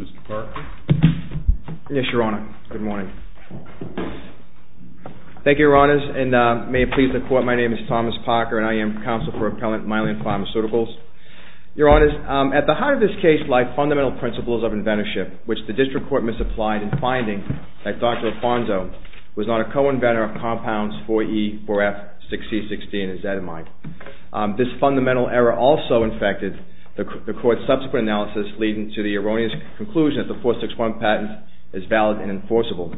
Mr. Parker? Yes, Your Honor. Good morning. Thank you, Your Honors, and may it please the Court, my name is Thomas Parker, and I am counsel for appellant Mylan Pharmaceuticals. Your Honors, at the heart of this case lie fundamental principles of inventorship, which the District Court misapplied in finding that Dr. Lofando was not a co-inventor of compounds 4E, 4F, 6E, 6D, and ezetimibe. This fundamental error also infected the Court's subsequent analysis, leading to the erroneous conclusion that the 461 patent is valid and enforceable.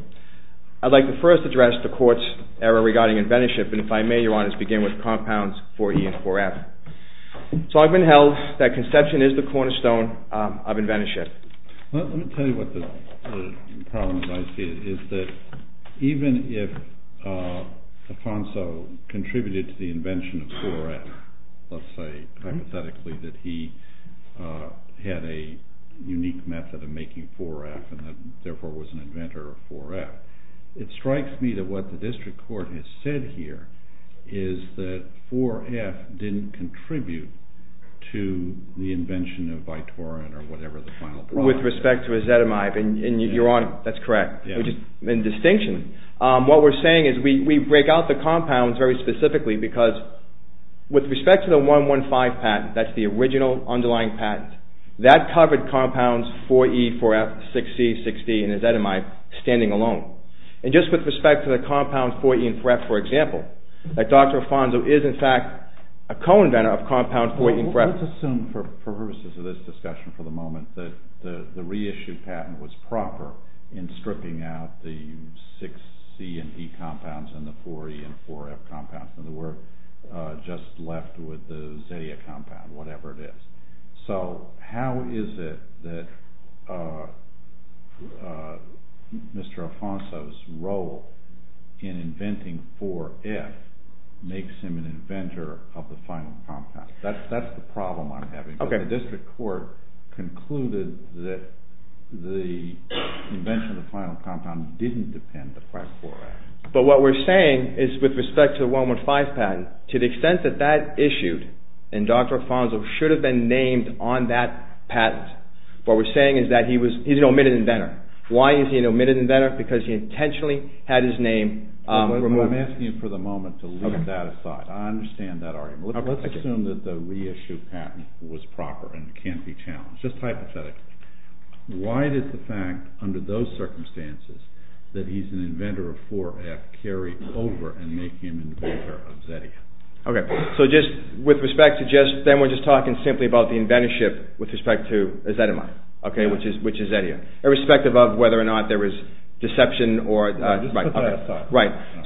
I'd like to first address the Court's error regarding inventorship, and if I may, Your Honors, begin with compounds 4E and 4F. So I've been held that conception is the cornerstone of inventorship. Let me tell you what the problem I see is that even if Lofando contributed to the invention of 4F, let's say hypothetically that he had a unique method of making 4F and therefore was an inventor of 4F, it strikes me that what the District Court has said here is that 4F didn't contribute to the invention of Vitorian or whatever the final product was. With respect to ezetimibe, and Your Honor, that's correct. What we're saying is we break out the compounds very specifically because with respect to the 115 patent, that's the original underlying patent, that covered compounds 4E, 4F, 6C, 6D, and ezetimibe standing alone. And just with respect to the compounds 4E and 4F, for example, that Dr. Lofando is in fact a co-inventor of compounds 4E and 4F. Let's assume for purposes of this discussion for the moment that the reissued patent was proper in stripping out the 6C and E compounds and the 4E and 4F compounds and we're just left with the zettia compound, whatever it is. So how is it that Mr. Alfonso's role in inventing 4F makes him an inventor of the final compound? That's the problem I'm having. The District Court concluded that the invention of the final compound didn't depend upon 4F. But what we're saying is with respect to the 115 patent, to the extent that that issued and Dr. Alfonso should have been named on that patent, what we're saying is that he's an omitted inventor. Why is he an omitted inventor? Because he intentionally had his name removed. I'm asking you for the moment to leave that aside. I understand that argument. Let's assume that the reissued patent was proper and can't be challenged. Just hypothetically. Why does the fact under those circumstances that he's an inventor of 4F carry over and make him an inventor of zettia? Then we're just talking simply about the inventorship with respect to zettia, irrespective of whether or not there was deception.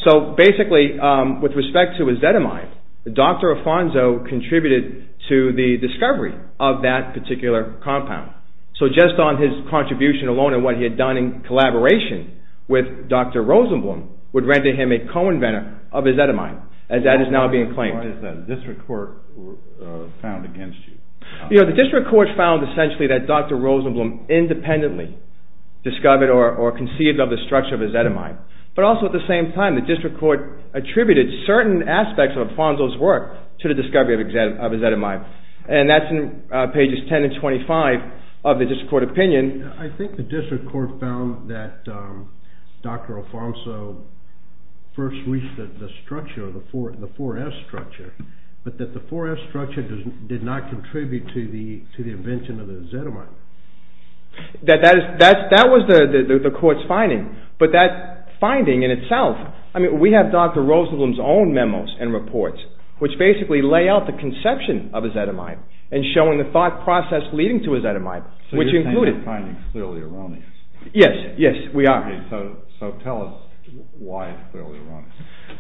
So basically with respect to zettia, Dr. Alfonso contributed to the discovery of that particular compound. So just on his contribution alone and what he had done in collaboration with Dr. Rosenblum would render him a co-inventor of ezetimibe, as that is now being claimed. What has the District Court found against you? The District Court found essentially that Dr. Rosenblum independently discovered or conceived of the structure of ezetimibe. But also at the same time, the District Court attributed certain aspects of Alfonso's work to the discovery of ezetimibe. And that's in pages 10 and 25 of the District Court opinion. I think the District Court found that Dr. Alfonso first reached the structure, the 4F structure, but that the 4F structure did not contribute to the invention of the ezetimibe. That was the Court's finding, but that finding in itself, I mean we have Dr. Rosenblum's own memos and reports which basically lay out the conception of ezetimibe and showing the thought process leading to ezetimibe. So you think your finding is clearly erroneous? Yes, yes we are. So tell us why it's clearly erroneous.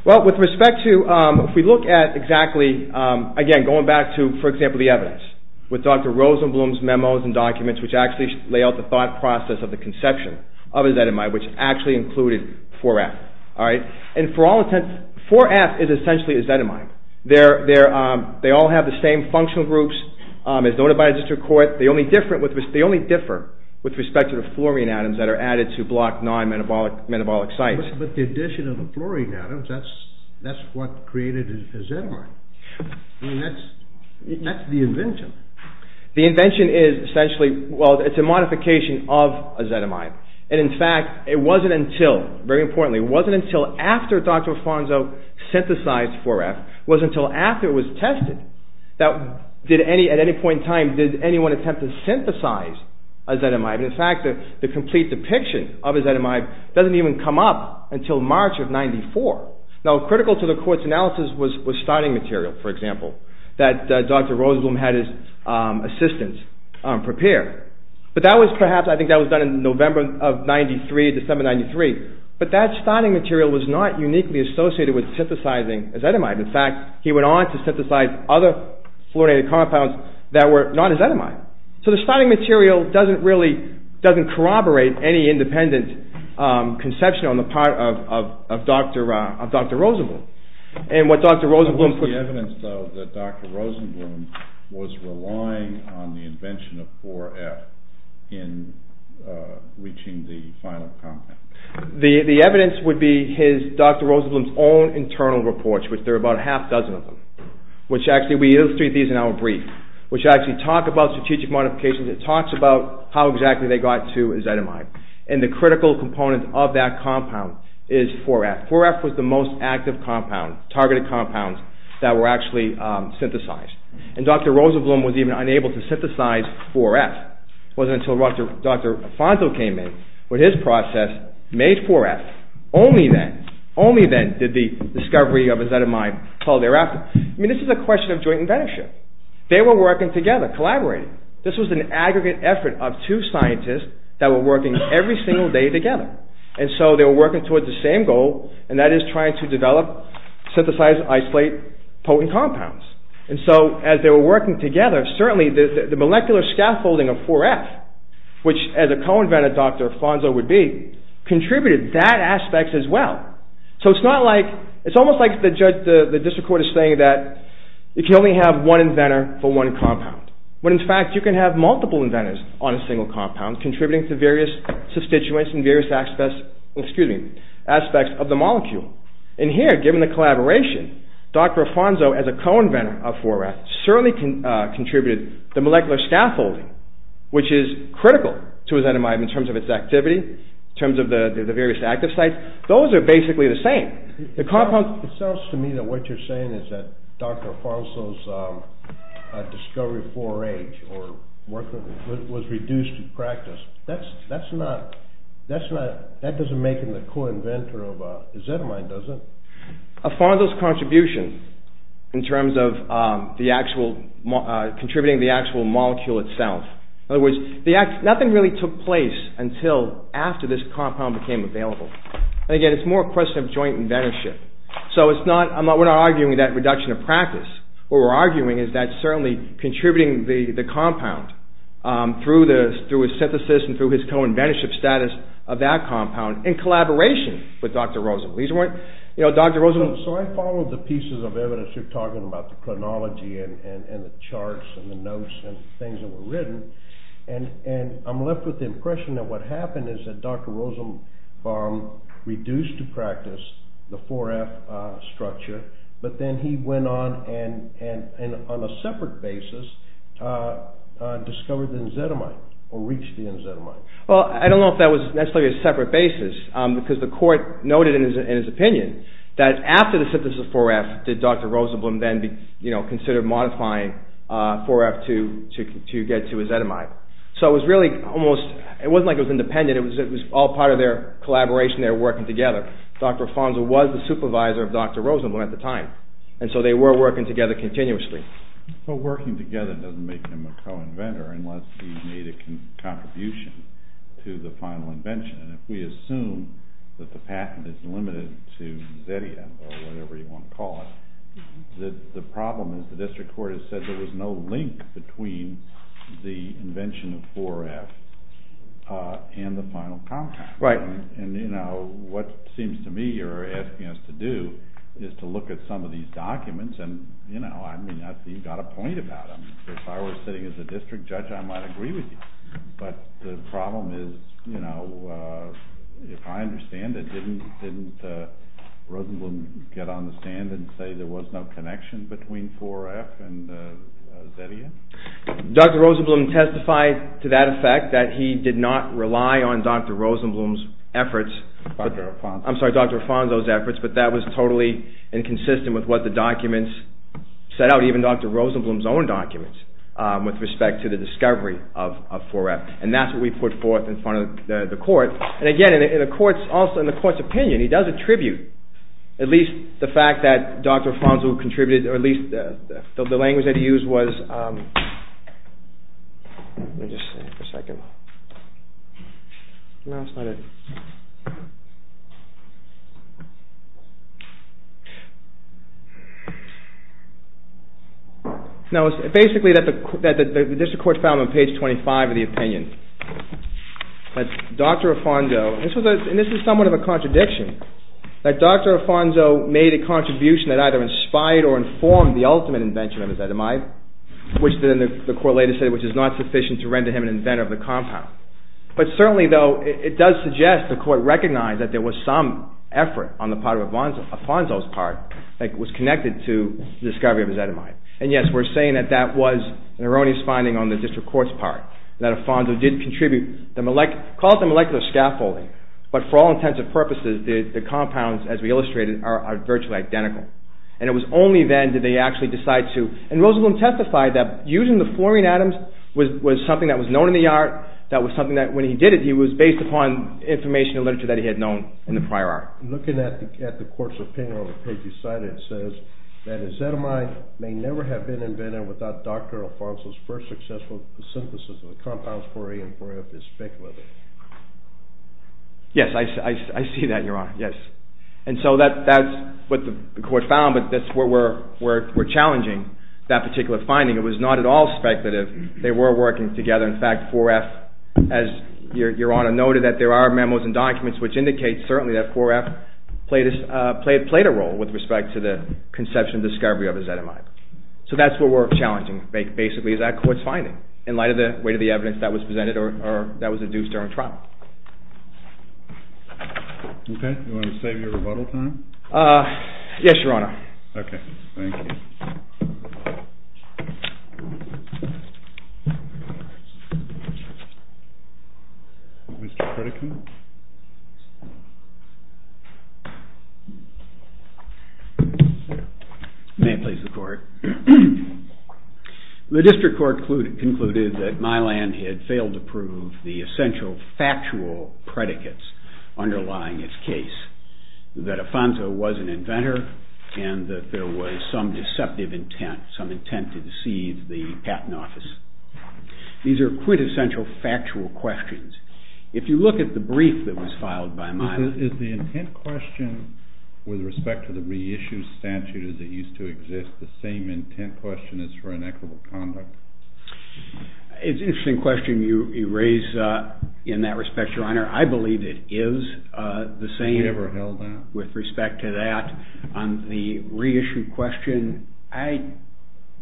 Well with respect to, if we look at exactly, again going back to for example the evidence, with Dr. Rosenblum's memos and documents which actually lay out the thought process of the conception of ezetimibe which actually included 4F. And for all intents, 4F is essentially ezetimibe. They all have the same functional groups as noted by the District Court. They only differ with respect to the fluorine atoms that are added to block non-metabolic sites. But the addition of the fluorine atoms, that's what created ezetimibe. I mean that's the invention. The invention is essentially, well it's a modification of ezetimibe. And in fact it wasn't until, very importantly, it wasn't until after Dr. Alfonso synthesized 4F, it wasn't until after it was tested, that at any point in time did anyone attempt to synthesize ezetimibe. In fact, the complete depiction of ezetimibe doesn't even come up until March of 94. Now critical to the Court's analysis was starting material, for example, that Dr. Rosenblum had his assistants prepare. But that was perhaps, I think that was done in November of 93, December 93, but that starting material was not uniquely associated with synthesizing ezetimibe. In fact, he went on to synthesize other fluorinated compounds that were not ezetimibe. So the starting material doesn't really, doesn't corroborate any independent conception on the part of Dr. Rosenblum. And what Dr. Rosenblum put... What was the evidence though that Dr. Rosenblum was relying on the invention of 4F in reaching the final compound? The evidence would be his, Dr. Rosenblum's own internal reports, which there are about a half dozen of them. Which actually, we illustrate these in our brief, which actually talk about strategic modifications. It talks about how exactly they got to ezetimibe. And the critical component of that compound is 4F. 4F was the most active compound, targeted compound, that were actually synthesized. And Dr. Rosenblum was even unable to synthesize 4F. It wasn't until Dr. Afonso came in with his process, made 4F, only then, only then did the discovery of ezetimibe fall thereafter. I mean, this is a question of joint inventorship. They were working together, collaborating. This was an aggregate effort of two scientists that were working every single day together. And so they were working towards the same goal, and that is trying to develop, synthesize, isolate potent compounds. And so as they were working together, certainly the molecular scaffolding of 4F, which as a co-invented Dr. Afonso would be, contributed that aspect as well. So it's not like, it's almost like the district court is saying that you can only have one inventor for one compound. When in fact, you can have multiple inventors on a single compound, contributing to various substituents and various aspects of the molecule. And here, given the collaboration, Dr. Afonso, as a co-inventor of 4F, certainly contributed the molecular scaffolding, which is critical to ezetimibe in terms of its activity, in terms of the various active sites. Those are basically the same. It sounds to me that what you're saying is that Dr. Afonso's discovery of 4H was reduced in practice. That doesn't make him the co-inventor of ezetimibe, does it? Afonso's contribution, in terms of contributing the actual molecule itself. In other words, nothing really took place until after this compound became available. And again, it's more a question of joint inventorship. So we're not arguing that reduction of practice. What we're arguing is that certainly contributing the compound through his synthesis and through his co-inventorship status of that compound, in collaboration with Dr. Rosenblum. So I followed the pieces of evidence you're talking about, the chronology and the charts and the notes and things that were written, and I'm left with the impression that what happened is that Dr. Rosenblum reduced to practice the 4F structure, but then he went on and, on a separate basis, discovered the ezetimibe, or reached the ezetimibe. Well, I don't know if that was necessarily a separate basis, because the court noted in his opinion that after the synthesis of 4F, did Dr. Rosenblum then consider modifying 4F to get to ezetimibe. So it wasn't like it was independent, it was all part of their collaboration, they were working together. Dr. Afonso was the supervisor of Dr. Rosenblum at the time, and so they were working together continuously. But working together doesn't make him a co-inventor unless he made a contribution to the final invention, and if we assume that the patent is limited to ezetimibe, or whatever you want to call it, the problem is the district court has said there was no link between the invention of 4F and the final compound. Right. And, you know, what it seems to me you're asking us to do is to look at some of these documents, and, you know, I mean, you've got a point about them. If I were sitting as a district judge, I might agree with you. But the problem is, you know, if I understand it, didn't Rosenblum get on the stand and say there was no connection between 4F and ezetimibe? Dr. Rosenblum testified to that effect, that he did not rely on Dr. Rosenblum's efforts. I'm sorry, Dr. Afonso's efforts, but that was totally inconsistent with what the documents set out, even Dr. Rosenblum's own documents, with respect to the discovery of 4F. And that's what we put forth in front of the court. And again, in the court's opinion, he does attribute at least the fact that Dr. Afonso contributed, or at least the language that he used was, let me just see for a second. No, it's not it. No, it's basically that the district court found on page 25 of the opinion that Dr. Afonso, made a contribution that either inspired or informed the ultimate invention of ezetimibe, which the court later said was not sufficient to render him an inventor of the compound. But certainly though, it does suggest the court recognized that there was some effort on the part of Afonso's part that was connected to the discovery of ezetimibe. And yes, we're saying that that was an erroneous finding on the district court's part, that Afonso did contribute, call it the molecular scaffolding, but for all intents and purposes, the compounds, as we illustrated, are virtually identical. And it was only then did they actually decide to, and Rosenblum testified that using the fluorine atoms was something that was known in the art, that was something that when he did it, he was based upon information and literature that he had known in the prior art. Looking at the court's opinion on the page you cited, it says that ezetimibe may never have been invented without Dr. Afonso's first successful synthesis of the compounds 4A and 4F is speculative. Yes, I see that, Your Honor, yes. And so that's what the court found, but that's where we're challenging that particular finding. It was not at all speculative. They were working together. In fact, 4F, as Your Honor noted, that there are memos and documents which indicate certainly that 4F played a role with respect to the conception and discovery of ezetimibe. So that's what we're challenging, basically, is that court's finding in light of the weight of the evidence that was presented or that was induced during trial. Okay, do you want to save your rebuttal time? Yes, Your Honor. Okay, thank you. Mr. Critican. May it please the court. The district court concluded that Milan had failed to prove the essential factual predicates underlying its case, that Afonso was an inventor and that there was some deceptive intent, some intent to deceive the patent office. These are quintessential factual questions. If you look at the brief that was filed by Milan... Is the intent question with respect to the reissue statute as it used to exist the same intent question as for inequitable conduct? It's an interesting question you raise in that respect, Your Honor. I believe it is the same... We never held that. ...with respect to that. On the reissue question, I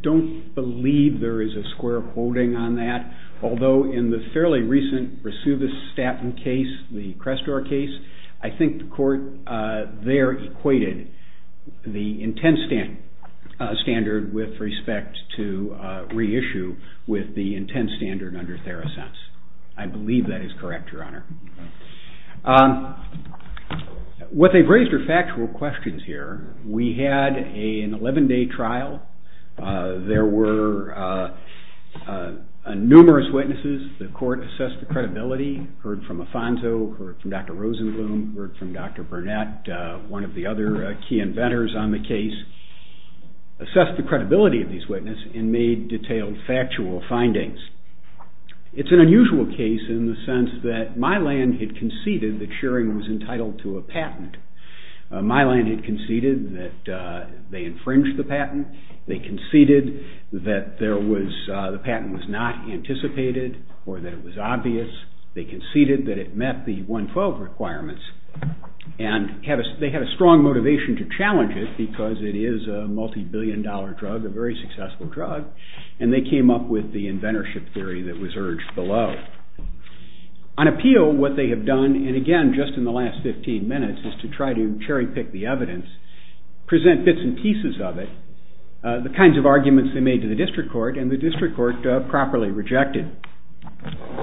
don't believe there is a square quoting on that, although in the fairly recent Resuvistatin case, the Crestor case, I think the court there equated the intent standard with respect to reissue with the intent standard under Theracense. I believe that is correct, Your Honor. What they've raised are factual questions here. We had an 11-day trial. There were numerous witnesses. The court assessed the credibility, heard from Afonso, heard from Dr. Rosenblum, heard from Dr. Burnett, one of the other key inventors on the case, assessed the credibility of these witnesses and made detailed factual findings. It's an unusual case in the sense that Milan had conceded that Schering was entitled to a patent. Milan had conceded that they infringed the patent. They conceded that the patent was not anticipated or that it was obvious. They conceded that it met the 112 requirements. They had a strong motivation to challenge it because it is a multi-billion dollar drug, a very successful drug, and they came up with the inventorship theory that was urged below. On appeal, what they have done, and again, just in the last 15 minutes, is to try to cherry-pick the evidence, present bits and pieces of it, the kinds of arguments they made to the district court, and the district court properly rejected.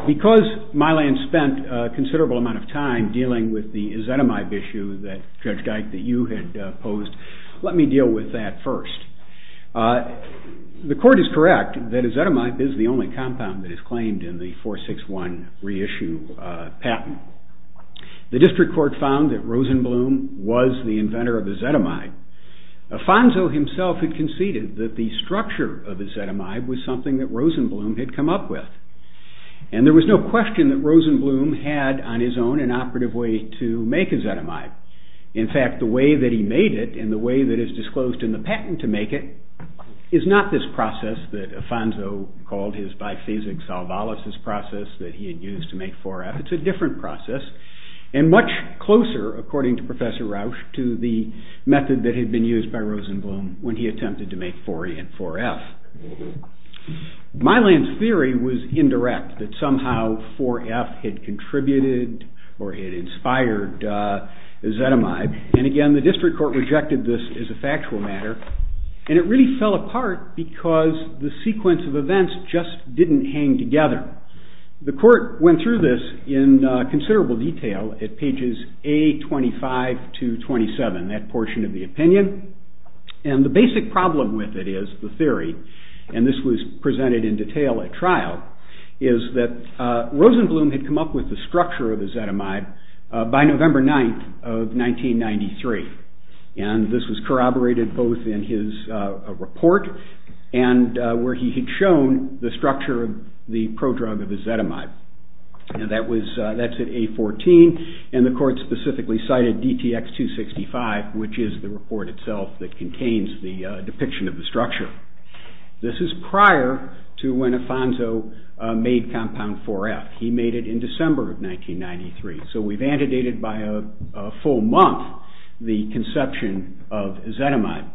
Because Milan spent a considerable amount of time dealing with the ezetimibe issue that Judge Dike, that you had posed, let me deal with that first. The court is correct that ezetimibe is the only compound that is claimed in the 461 reissue patent. The district court found that Rosenblum was the inventor of ezetimibe. Afonso himself had conceded that the structure of ezetimibe was something that Rosenblum had come up with. And there was no question that Rosenblum had, on his own, an operative way to make ezetimibe. In fact, the way that he made it and the way that is disclosed in the patent to make it is not this process that Afonso called his biphasic salvolysis process that he had used to make 4F, it's a different process, and much closer, according to Professor Rausch, to the method that had been used by Rosenblum when he attempted to make 4E and 4F. Milan's theory was indirect, that somehow 4F had contributed or had inspired ezetimibe, and again the district court rejected this as a factual matter, and it really fell apart because the sequence of events just didn't hang together. The court went through this in considerable detail at pages A25 to 27, that portion of the opinion, and the basic problem with it is, the theory, and this was presented in detail at trial, is that Rosenblum had come up with the structure of ezetimibe by November 9th of 1993, and this was corroborated both in his report and where he had shown the structure of the prodrug of ezetimibe, and that's at A14, and the court specifically cited DTX-265, which is the report itself that contains the depiction of the structure. This is prior to when Afonso made compound 4F. He made it in December of 1993, so we've antedated by a full month the conception of ezetimibe.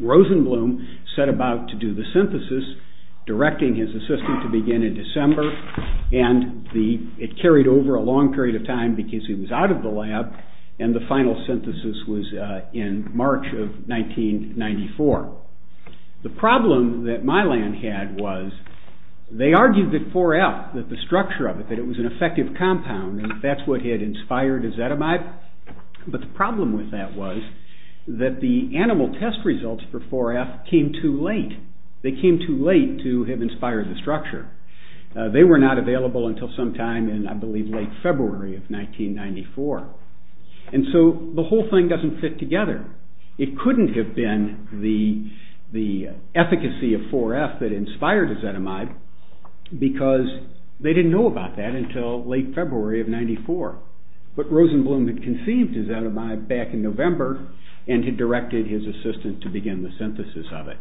Rosenblum set about to do the synthesis, directing his assistant to begin in December, and it carried over a long period of time because he was out of the lab, and the final synthesis was in March of 1994. The problem that Milan had was, they argued that 4F, that the structure of it, that it was an effective compound, and that's what had inspired ezetimibe, but the problem with that was that the animal test results for 4F came too late. They came too late to have inspired the structure. They were not available until sometime in, I believe, late February of 1994, and so the whole thing doesn't fit together. It couldn't have been the efficacy of 4F that inspired ezetimibe because they didn't know about that until late February of 1994, but Rosenblum had conceived ezetimibe back in November and had directed his assistant to begin the synthesis of it,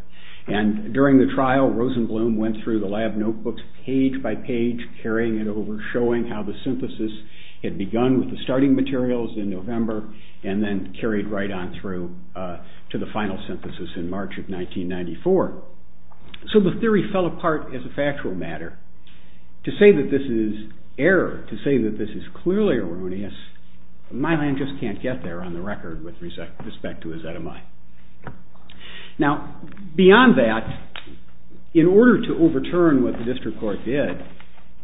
and during the trial, Rosenblum went through the lab notebooks page by page, carrying it over, showing how the synthesis had begun with the starting materials in November and then carried right on through to the final synthesis in March of 1994, so the theory fell apart as a factual matter. To say that this is error, to say that this is clearly erroneous, Mylan just can't get there on the record with respect to ezetimibe. Now, beyond that, in order to overturn what the district court did,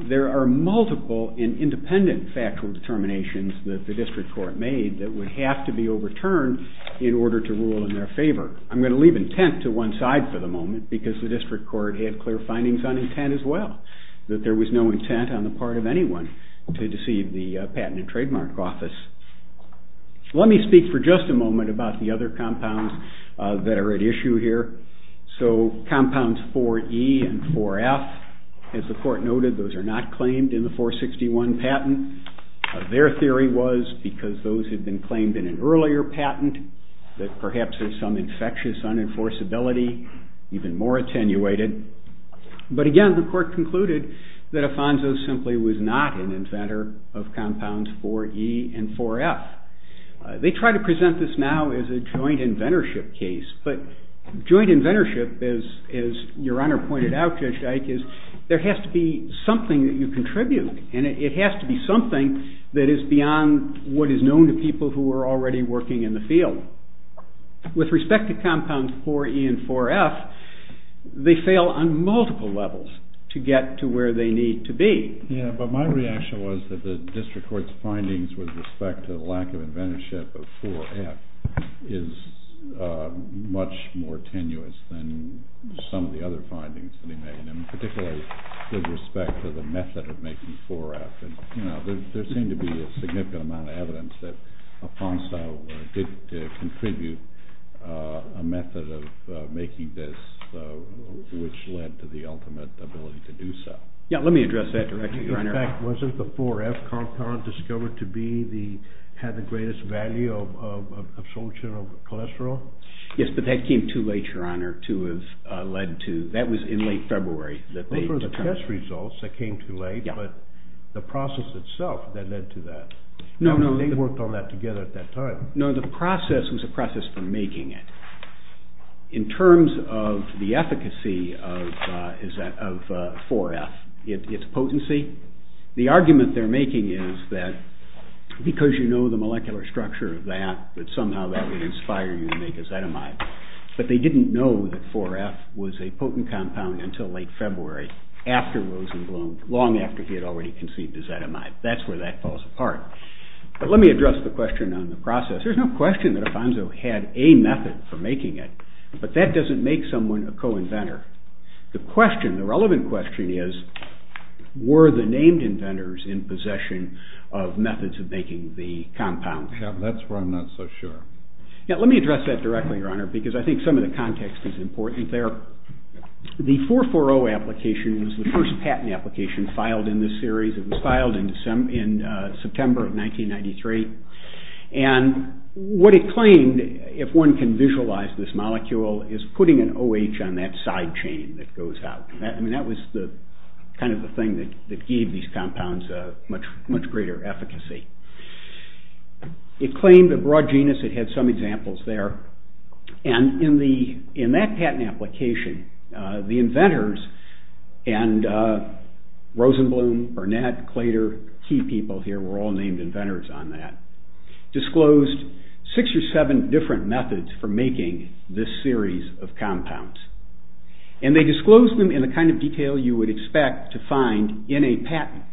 there are multiple and independent factual determinations that the district court made that would have to be overturned in order to rule in their favor. I'm going to leave intent to one side for the moment because the district court had clear findings on intent as well, that there was no intent on the part of anyone to deceive the Patent and Trademark Office. Let me speak for just a moment about the other compounds that are at issue here. So compounds 4E and 4F, as the court noted, those are not claimed in the 461 patent. Their theory was because those had been claimed in an earlier patent that perhaps there's some infectious unenforceability, even more attenuated. But again, the court concluded that Afonso simply was not an inventor of compounds 4E and 4F. They try to present this now as a joint inventorship case, but joint inventorship, as your Honor pointed out, Judge Dyke, is there has to be something that you contribute, and it has to be something that is beyond what is known to people who are already working in the field. With respect to compounds 4E and 4F, they fail on multiple levels to get to where they need to be. Yeah, but my reaction was that the district court's findings with respect to the lack of inventorship of 4F is much more tenuous than some of the other findings that he made, and particularly with respect to the method of making 4F. There seemed to be a significant amount of evidence that Afonso did contribute a method of making this, which led to the ultimate ability to do so. Yeah, let me address that directly, your Honor. In fact, wasn't the 4F compound discovered to have the greatest value of absorption of cholesterol? Yes, but that came too late, your Honor, to have led to. That was in late February. Those were the test results that came too late, but the process itself that led to that. They worked on that together at that time. No, the process was a process for making it. In terms of the efficacy of 4F, its potency, the argument they're making is that because you know the molecular structure of that, that somehow that would inspire you to make acetamide. But they didn't know that 4F was a potent compound until late February after Rosenblum, long after he had already conceived acetamide. That's where that falls apart. But let me address the question on the process. There's no question that Afonso had a method for making it, but that doesn't make someone a co-inventor. The question, the relevant question is, were the named inventors in possession of methods of making the compound? Yeah, that's where I'm not so sure. Yeah, let me address that directly, your Honor, because I think some of the context is important there. The 440 application was the first patent application filed in this series. It was filed in September of 1993. And what it claimed, if one can visualize this molecule, is putting an OH on that side chain that goes out. I mean, that was kind of the thing that gave these compounds much greater efficacy. It claimed a broad genus. It had some examples there. And in that patent application, the inventors and Rosenblum, Burnett, Claytor, key people here were all named inventors on that, disclosed six or seven different methods for making this series of compounds. And they disclosed them in the kind of detail you would expect to find in a patent,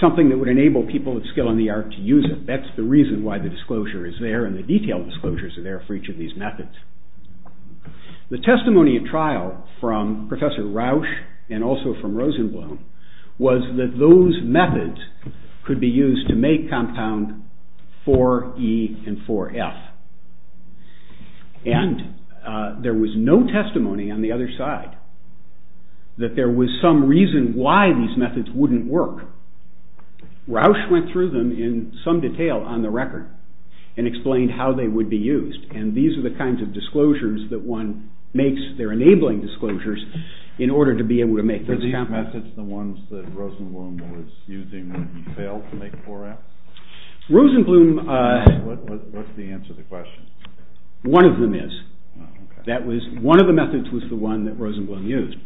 something that would enable people with skill in the art to use it. And that's the reason why the disclosure is there and the detailed disclosures are there for each of these methods. The testimony at trial from Professor Rausch and also from Rosenblum was that those methods could be used to make compound 4E and 4F. And there was no testimony on the other side that there was some reason why these methods wouldn't work. Rausch went through them in some detail on the record and explained how they would be used. And these are the kinds of disclosures that one makes. They're enabling disclosures in order to be able to make those compounds. Were these methods the ones that Rosenblum was using when he failed to make 4F? Rosenblum... What's the answer to the question? One of them is. One of the methods was the one that Rosenblum used.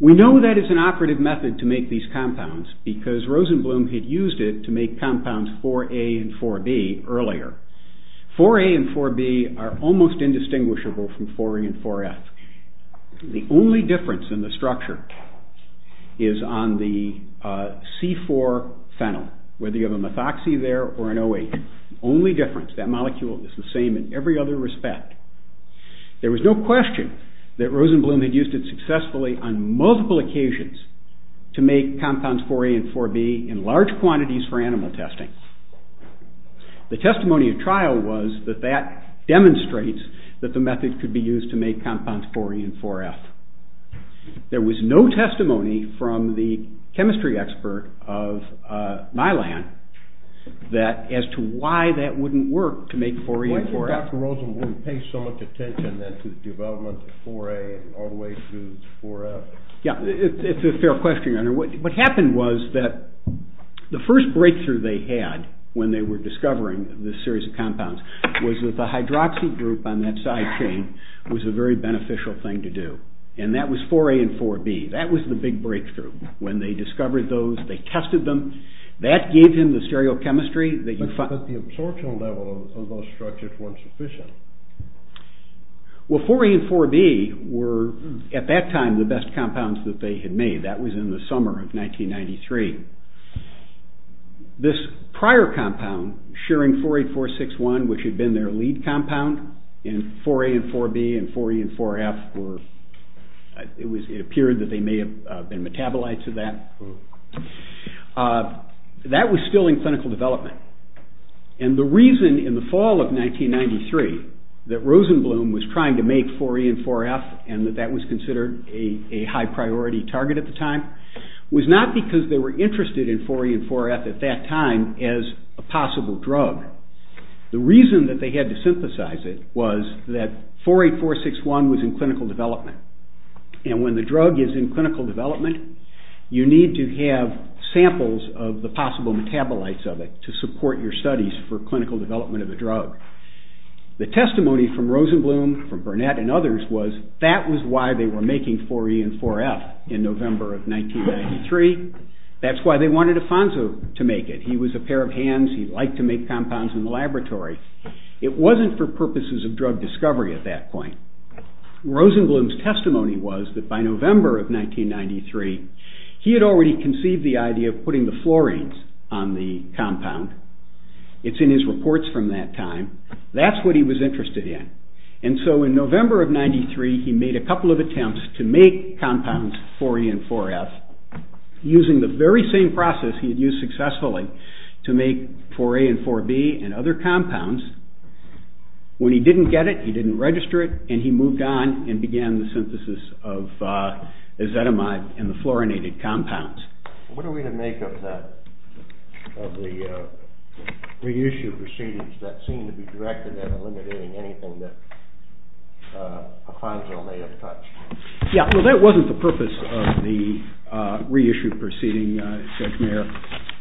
We know that it's an operative method to make these compounds because Rosenblum had used it to make compounds 4A and 4B earlier. 4A and 4B are almost indistinguishable from 4E and 4F. The only difference in the structure is on the C4 phenol. Whether you have a methoxy there or an OH. The only difference. That molecule is the same in every other respect. There was no question that Rosenblum had used it successfully on multiple occasions to make compounds 4A and 4B in large quantities for animal testing. The testimony of trial was that that demonstrates that the method could be used to make compounds 4E and 4F. There was no testimony from the chemistry expert of my land as to why that wouldn't work to make 4E and 4F. Why do you think Dr. Rosenblum would pay so much attention to the development of 4A all the way through to 4F? It's a fair question. What happened was that the first breakthrough they had when they were discovering this series of compounds was that the hydroxy group on that side chain was a very beneficial thing to do. That was 4A and 4B. That was the big breakthrough. When they discovered those, they tested them. That gave him the stereochemistry. But the absorption level of those structures wasn't sufficient. Well, 4A and 4B were, at that time, the best compounds that they had made. That was in the summer of 1993. This prior compound, Schering 48461, which had been their lead compound in 4A and 4B and 4E and 4F, it appeared that they may have been metabolites of that. That was still in clinical development. And the reason in the fall of 1993 that Rosenblum was trying to make 4A and 4F and that that was considered a high priority target at the time was not because they were interested in 4A and 4F at that time as a possible drug. The reason that they had to synthesize it was that 48461 was in clinical development. And when the drug is in clinical development, you need to have samples of the possible metabolites of it to support your studies for clinical development of a drug. The testimony from Rosenblum, from Burnett, and others was that was why they were making 4E and 4F in November of 1993. That's why they wanted Afonso to make it. He was a pair of hands. He liked to make compounds in the laboratory. It wasn't for purposes of drug discovery at that point. Rosenblum's testimony was that by November of 1993 he had already conceived the idea of putting the fluorines on the compound. It's in his reports from that time. That's what he was interested in. And so in November of 1993, he made a couple of attempts to make compounds 4E and 4F using the very same process he had used successfully to make 4A and 4B and other compounds. When he didn't get it, he didn't register it, and he moved on and began the synthesis of ezetimibe and the fluorinated compounds. What are we to make of that, of the reissue proceedings that seem to be directed at eliminating anything that Afonso may have touched? Yeah, well, that wasn't the purpose of the reissue proceeding, Judge Mayer.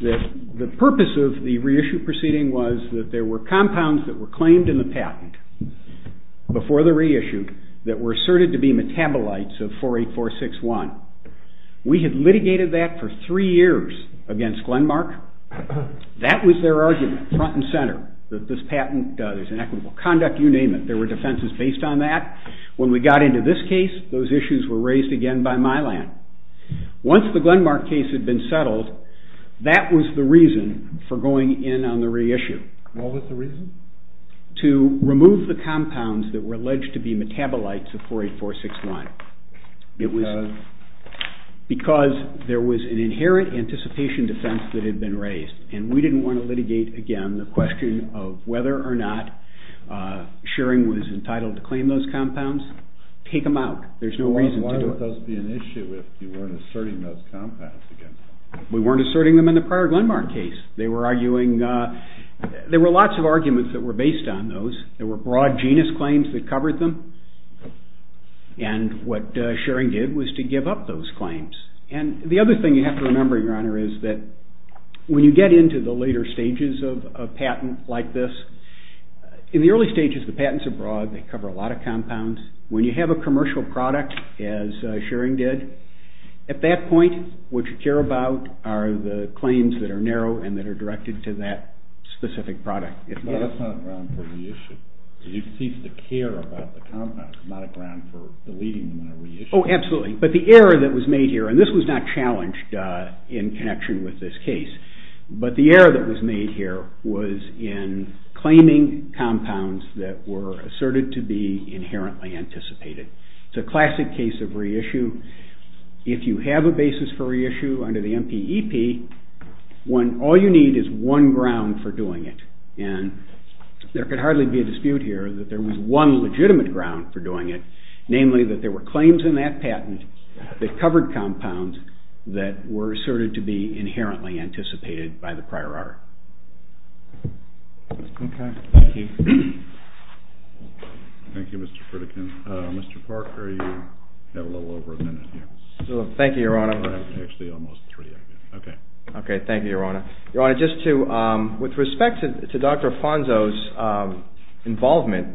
The purpose of the reissue proceeding was that there were compounds that were claimed in the patent before the reissue that were asserted to be metabolites of 4A461. We had litigated that for three years against Glenmark. That was their argument, front and center, that this patent is inequitable conduct, you name it. There were defenses based on that. When we got into this case, those issues were raised again by Milan. Once the Glenmark case had been settled, that was the reason for going in on the reissue. What was the reason? To remove the compounds that were alleged to be metabolites of 4A461. Because? Because there was an inherent anticipation defense that had been raised, and we didn't want to litigate again the question of whether or not Schering was entitled to claim those compounds. Take them out. There's no reason to do it. Why would those be an issue if you weren't asserting those compounds again? We weren't asserting them in the prior Glenmark case. They were arguing... There were lots of arguments that were based on those. There were broad genus claims that covered them. And what Schering did was to give up those claims. And the other thing you have to remember, Your Honor, is that when you get into the later stages of a patent like this... In the early stages, the patents are broad. They cover a lot of compounds. When you have a commercial product, as Schering did, at that point, what you care about are the claims that are narrow and that are directed to that specific product. No, that's not a ground for reissue. You cease to care about the compounds. It's not a ground for deleting them in a reissue. Oh, absolutely. But the error that was made here... And this was not challenged in connection with this case. But the error that was made here was in claiming compounds that were asserted to be inherently anticipated. It's a classic case of reissue. If you have a basis for reissue under the MPEP, all you need is one ground for doing it. And there could hardly be a dispute here that there was one legitimate ground for doing it, namely that there were claims in that patent that covered compounds that were asserted to be inherently anticipated by the prior art. Okay. Thank you. Thank you, Mr. Pritikin. Mr. Parker, you have a little over a minute here. Thank you, Your Honor. Actually, almost three. Okay. Okay. Thank you, Your Honor. Your Honor, with respect to Dr. Afonso's involvement,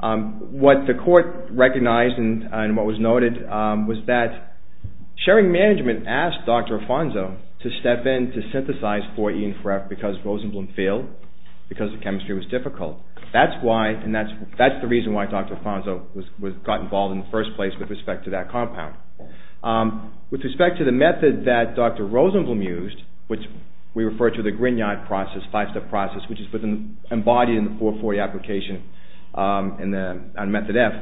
what the court recognized and what was noted was that sharing management asked Dr. Afonso to step in to synthesize 4E and 4F because Rosenblum failed, because the chemistry was difficult. That's the reason why Dr. Afonso got involved in the first place with respect to that compound. With respect to the method that Dr. Rosenblum used, which we refer to the Grignard process, five-step process, which is embodied in the 440 application on method F,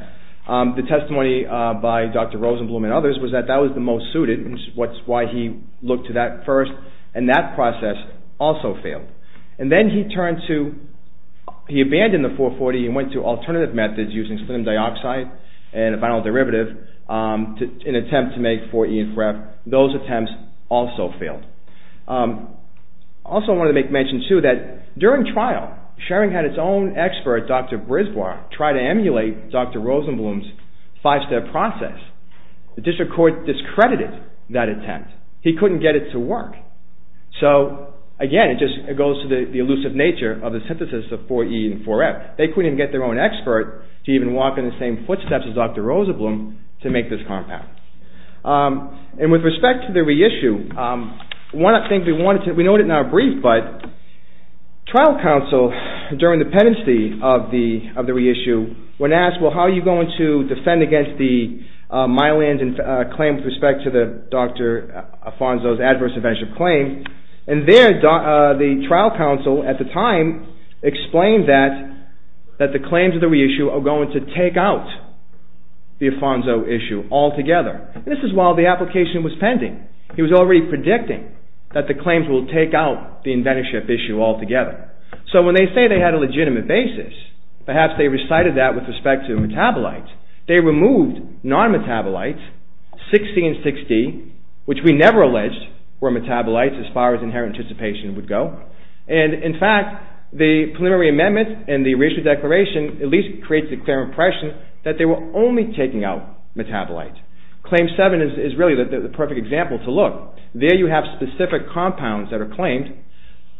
the testimony by Dr. Rosenblum and others was that that was the most suited, which is why he looked to that first, and that process also failed. And then he abandoned the 440 and went to alternative methods using sphenium dioxide and a vinyl derivative in an attempt to make 4E and 4F. Those attempts also failed. I also wanted to make mention, too, that during trial, sharing had its own expert, Dr. Brisbois, try to emulate Dr. Rosenblum's five-step process. The district court discredited that attempt. He couldn't get it to work. So, again, it just goes to the elusive nature of the synthesis of 4E and 4F. They couldn't even get their own expert to even walk in the same footsteps as Dr. Rosenblum to make this compound. And with respect to the reissue, one of the things we wanted to... We know it's not brief, but trial counsel, during the penalty of the reissue, when asked, well, how are you going to defend against the Myland claim with respect to Dr. Afonso's adverse inventorship claim? And there, the trial counsel, at the time, explained that the claims of the reissue are going to take out the Afonso issue altogether. This is while the application was pending. He was already predicting that the claims will take out the inventorship issue altogether. So when they say they had a legitimate basis, perhaps they recited that with respect to metabolites. They removed non-metabolites, 60 and 60, which we never alleged were metabolites as far as inherent anticipation would go. And in fact, the preliminary amendment and the reissue declaration at least creates a clear impression that they were only taking out metabolites. Claim 7 is really the perfect example to look. There you have specific compounds that are claimed,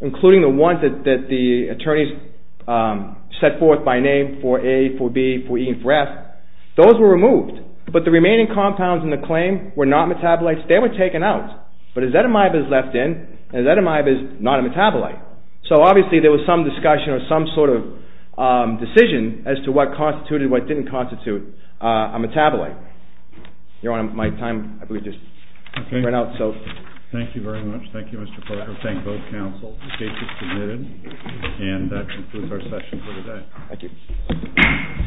including the ones that the attorneys set forth by name for A, for B, for E, and for F. Those were removed, but the remaining compounds in the claim were not metabolites. They were taken out, but azetamibe is left in, and azetamibe is not a metabolite. So obviously there was some discussion or some sort of decision as to what constituted, what didn't constitute, a metabolite. Your Honor, my time, I believe, just ran out. Thank you very much. Thank you, Mr. Parker. Thank both counsel in case it's permitted. And that concludes our session for today. Thank you.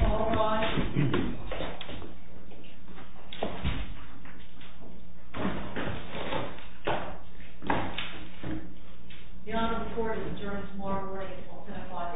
All rise. Your Honor, the court adjourns tomorrow morning at 5 a.m.